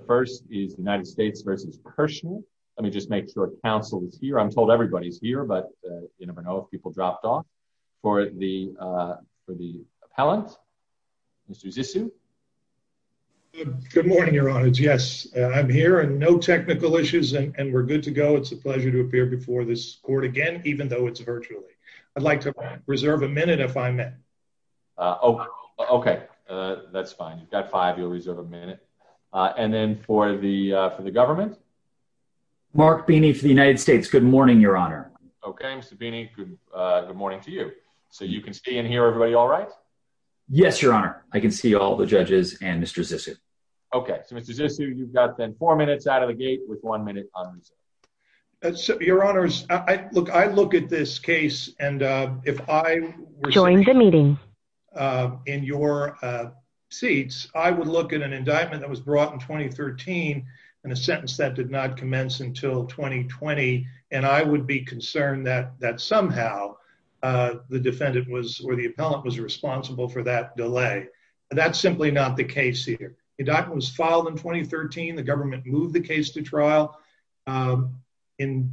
The first is the United States versus personal. Let me just make sure counsel is here. I'm told everybody's here, but you never know if people dropped off. For the appellant, Mr. Zissou. Good morning, Your Honor. Yes, I'm here. And no technical issues, and we're good to go. It's a pleasure to appear before this court again, even though it's virtually. I'd like to reserve a minute if I may. OK, that's fine. You've got five, you'll reserve a minute. And then for the government? Mark Beeney for the United States. Good morning, Your Honor. OK, Mr. Beeney, good morning to you. So you can see and hear everybody all right? Yes, Your Honor. I can see all the judges and Mr. Zissou. OK, so Mr. Zissou, you've got then four minutes out of the gate with one minute on the clock. Your Honors, look, I look at this case, and if I were sitting in your seats, I would look at an indictment that was brought in 2013 and a sentence that did not commence until 2020. And I would be concerned that somehow the defendant was, or the appellant was, responsible for that delay. That's simply not the case here. Indictment was filed in 2013. The government moved the case to trial. In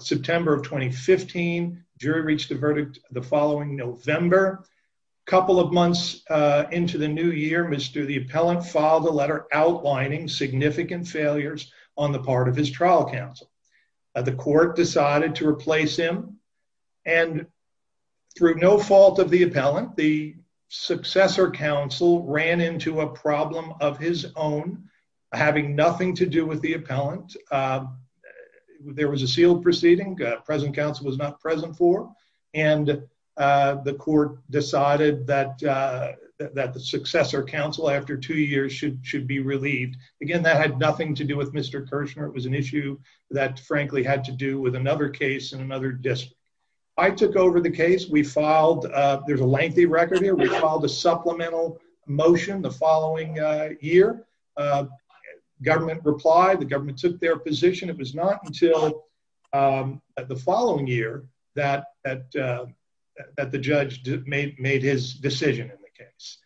September of 2015, jury reached a verdict the following November. A couple of months into the new year, Mr. the appellant filed a letter outlining significant failures on the part of his trial counsel. The court decided to replace him. And through no fault of the appellant, the successor counsel ran into a problem of his own having nothing to do with the appellant. There was a sealed proceeding. Present counsel was not present for. And the court decided that the successor counsel, after two years, should be relieved. Again, that had nothing to do with Mr. Kirshner. It was an issue that, frankly, had to do with another case in another district. I took over the case. There's a lengthy record here. We filed a supplemental motion the following year. Government replied. The government took their position. It was not until the following year that the judge made his decision in the case.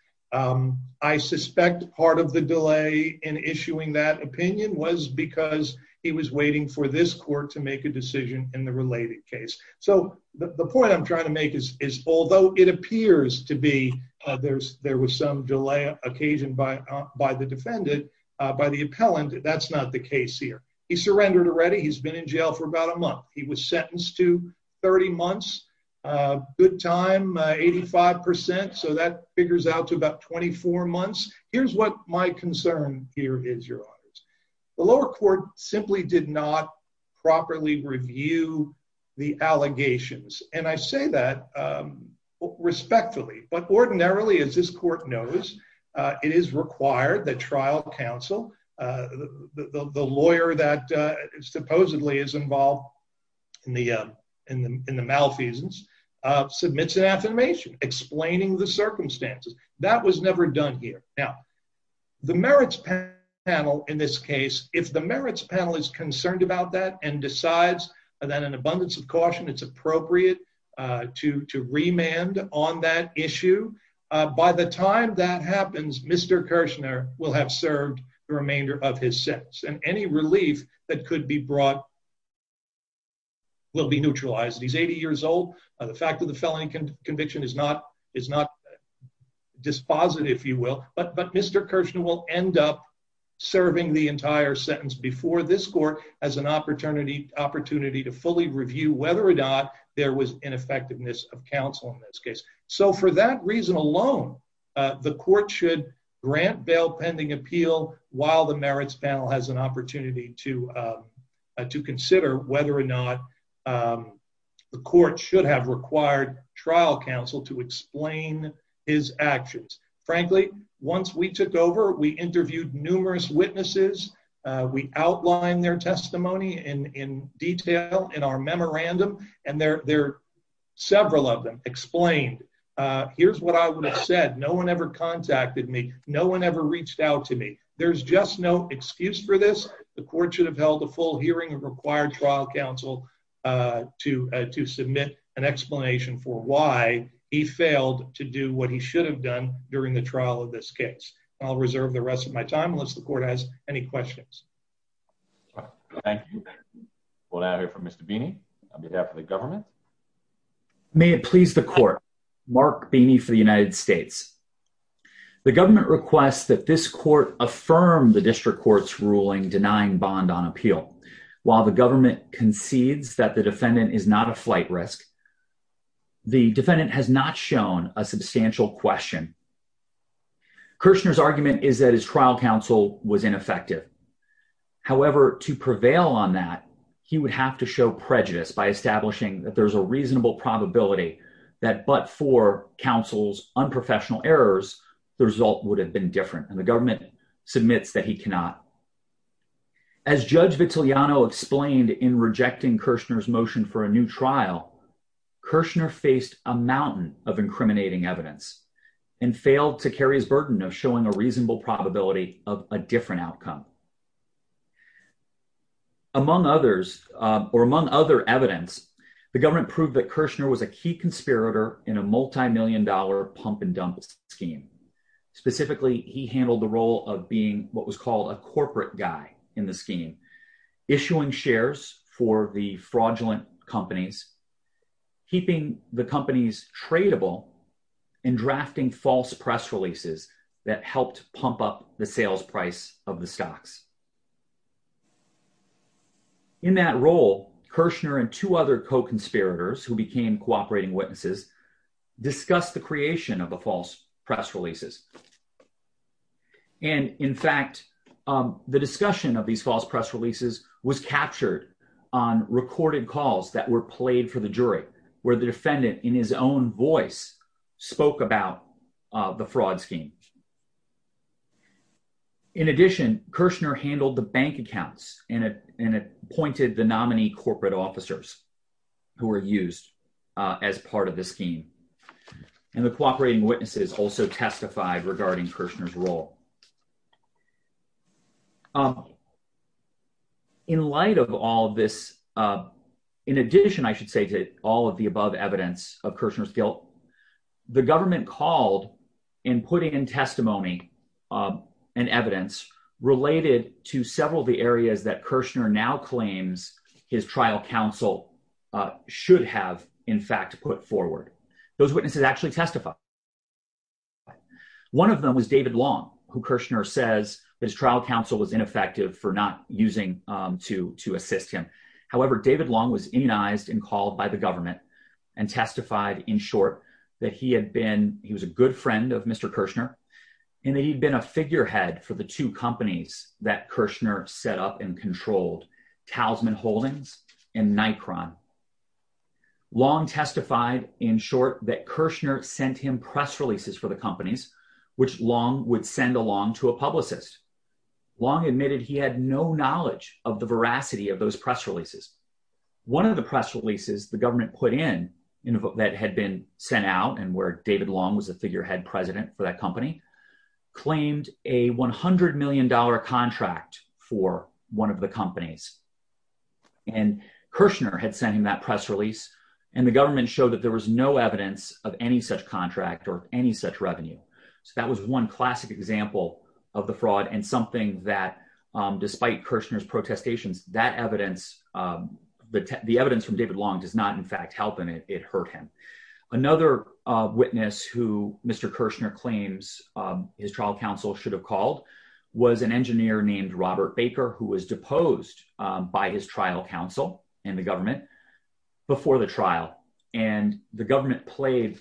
I suspect part of the delay in issuing that opinion was because he was waiting for this court to make a decision in the related case. So the point I'm trying to make is, although it appears to be there was some delay occasioned by the defendant, by the appellant, that's not the case here. He surrendered already. He's been in jail for about a month. He was sentenced to 30 months. Good time, 85%. So that figures out to about 24 months. Here's what my concern here is, Your Honors. The lower court simply did not properly review the allegations. And I say that respectfully. But ordinarily, as this court knows, it is required that trial counsel, the lawyer that supposedly is involved in the malfeasance, submits an affirmation explaining the circumstances. That was never done here. Now, the merits panel in this case, if the merits panel is concerned about that and decides that an abundance of caution is appropriate to remand on that issue, by the time that happens, Mr. Kirshner will have served the remainder of his sentence. And any relief that could be brought will be neutralized. He's 80 years old. The fact that the felony conviction is not dispositive, if you will. But Mr. Kirshner will end up serving the entire sentence before this court as an opportunity to fully review whether or not there was ineffectiveness of counsel in this case. So for that reason alone, the court should grant bail pending appeal while the merits panel has an opportunity to consider whether or not the court should have required trial counsel to explain his actions. Frankly, once we took over, we interviewed numerous witnesses. We outlined their testimony in detail in our memorandum. And there are several of them explained. Here's what I would have said. No one ever contacted me. No one ever reached out to me. There's just no excuse for this. The court should have held a full hearing of required trial counsel to submit an explanation for why he failed to do what he should have done during the trial of this case. I'll reserve the rest of my time unless the court has any questions. Thank you. We'll now hear from Mr. Beeney on behalf of the government. May it please the court. Mark Beeney for the United States. The government requests that this court affirm the district court's ruling denying bond on appeal. While the government concedes that the defendant is not a flight risk, the defendant has not shown a substantial question. Kirshner's argument is that his trial counsel was ineffective. However, to prevail on that, he would have to show prejudice by establishing that there's a reasonable probability that but for counsel's unprofessional errors, the result would have been different. And the government submits that he cannot. As Judge Vitiliano explained in rejecting Kirshner's motion for a new trial, Kirshner faced a mountain of incriminating evidence and failed to carry his burden of showing a reasonable probability of a different outcome. Among others, or among other evidence, the government proved that Kirshner was a key conspirator in a multimillion dollar pump and dump scheme. Specifically, he handled the role of being what was called a corporate guy in the scheme, issuing shares for the fraudulent companies, keeping the companies tradable and drafting false press releases that helped pump up the sales price of the stocks. In that role, Kirshner and two other co-conspirators who became cooperating witnesses discussed the creation of the false press releases. And in fact, the discussion of these false press releases was captured on recorded calls that were played for the jury, where the defendant in his own voice spoke about the fraud scheme. In addition, Kirshner handled the bank accounts and appointed the nominee corporate officers who were used as part of the scheme. And the cooperating witnesses also testified regarding Kirshner's role. In light of all of this, in addition, I should say, to all of the above evidence of Kirshner's guilt, the government called in putting into effect testimony and evidence related to several of the areas that Kirshner now claims his trial counsel should have in fact put forward. Those witnesses actually testified. One of them was David Long, who Kirshner says his trial counsel was ineffective for not using to assist him. However, David Long was immunized and called by the government and testified in short that he had been, he was a good friend of Mr. Kirshner and that he'd been a figurehead for the two companies that Kirshner set up and controlled, Talisman Holdings and Nikron. Long testified in short that Kirshner sent him press releases for the companies, which Long would send along to a publicist. Long admitted he had no knowledge of the veracity of those press releases. One of the press releases the government put in that had been sent out and where David Long was a figurehead president for that company, claimed a $100 million contract for one of the companies. And Kirshner had sent him that press release and the government showed that there was no evidence of any such contract or any such revenue. So that was one classic example of the fraud and something that despite Kirshner's protestations, that evidence, the evidence from David Long does not in fact help him, it hurt him. Another witness who Mr. Kirshner claims his trial counsel should have called was an engineer named Robert Baker, who was deposed by his trial counsel and the government before the trial. And the government played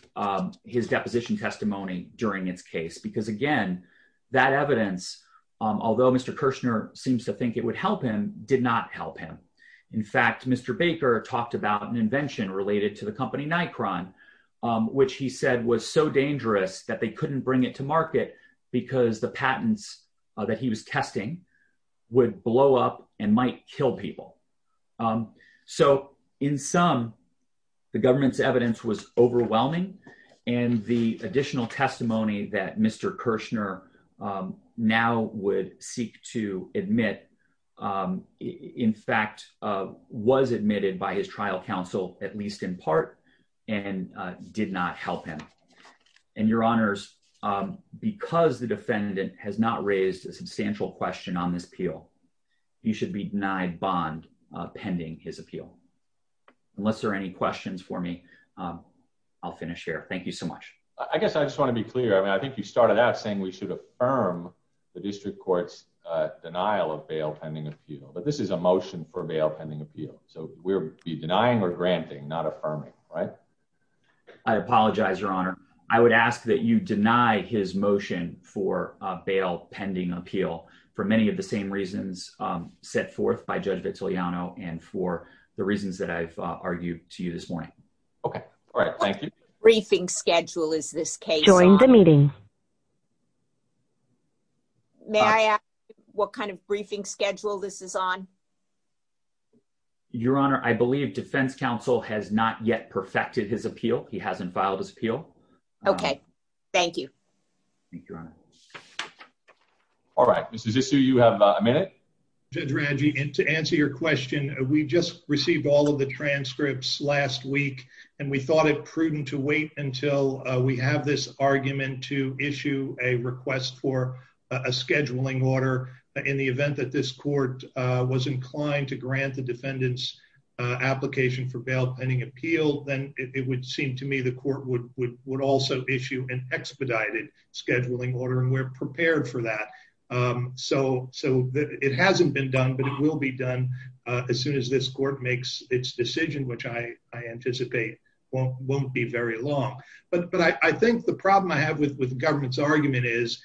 his deposition testimony during its case. Because again, that evidence, although Mr. Kirshner seems to think it would help him, did not help him. In fact, Mr. Baker talked about an invention related to the company Nikron, which he said was so dangerous that they couldn't bring it to market because the patents that he was testing would blow up and might kill people. So in sum, the government's evidence was overwhelming and the additional testimony that Mr. Kirshner now would seek to admit, in fact was admitted by his trial counsel at least in part and did not help him. And your honors, because the defendant has not raised a substantial question on this appeal, he should be denied bond pending his appeal. Unless there are any questions for me, I'll finish here, thank you so much. I guess I just wanna be clear. I mean, I think you started out saying we should affirm the district court's denial of bail pending appeal, but this is a motion for bail pending appeal. So we're either denying or granting, not affirming, right? I apologize, your honor. I would ask that you deny his motion for a bail pending appeal for many of the same reasons set forth by Judge Vitiliano and for the reasons that I've argued to you this morning. Okay, all right, thank you. What kind of briefing schedule is this case on? Join the meeting. May I ask what kind of briefing schedule this is on? Your honor, I believe defense counsel has not yet perfected his appeal. He hasn't filed his appeal. Okay, thank you. Thank you, your honor. All right, Mrs. Issu, you have a minute. Judge Ranji, and to answer your question, we just received all of the transcripts last week, and we thought it prudent to wait until we have this argument to issue a request for a scheduling order in the event that this court was inclined to grant the defendant's application for bail pending appeal, then it would seem to me the court would also issue an expedited scheduling order, and we're prepared for that. So it hasn't been done, but it will be done as soon as this court makes its decision, which I anticipate won't be very long. But I think the problem I have with the government's argument is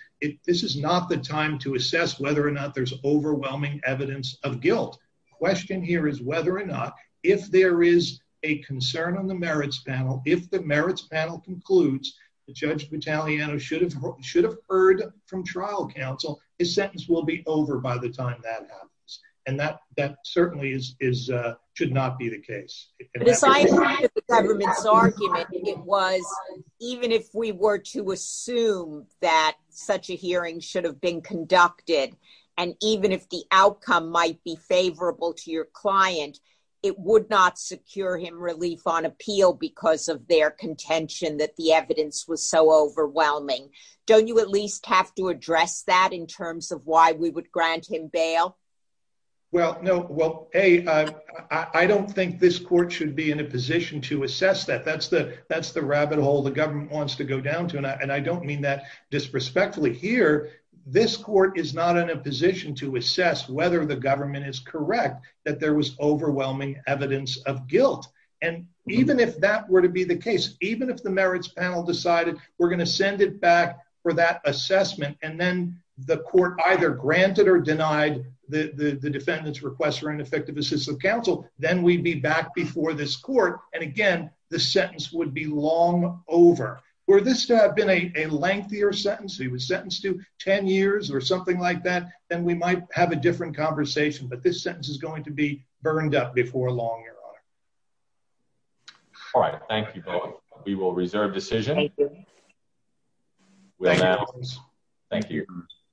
this is not the time to assess whether or not there's overwhelming evidence of guilt. The question here is whether or not if there is a concern on the merits panel, if the merits panel concludes that Judge Battagliano should have heard from trial counsel, his sentence will be over by the time that happens, and that certainly should not be the case. But as I think of the government's argument, it was even if we were to assume that such a hearing should have been conducted, and even if the outcome might be favorable to your client, it would not secure him relief on appeal because of their contention that the evidence was so overwhelming. Don't you at least have to address that in terms of why we would grant him bail? Well, no. Well, A, I don't think this court should be in a position to assess that. That's the rabbit hole the government wants to go down to, and I don't mean that disrespectfully. Here, this court is not in a position to assess whether the government is correct that there was overwhelming evidence of guilt. And even if that were to be the case, even if the merits panel decided we're gonna send it back for that assessment, and then the court either granted or denied the defendant's request for ineffective assistive counsel, then we'd be back before this court, and again, the sentence would be long over. Were this to have been a lengthier sentence, he was sentenced to 10 years or something like that, then we might have a different conversation, but this sentence is going to be burned up before long, Your Honor. All right, thank you both. We will reserve decision. With that, thank you.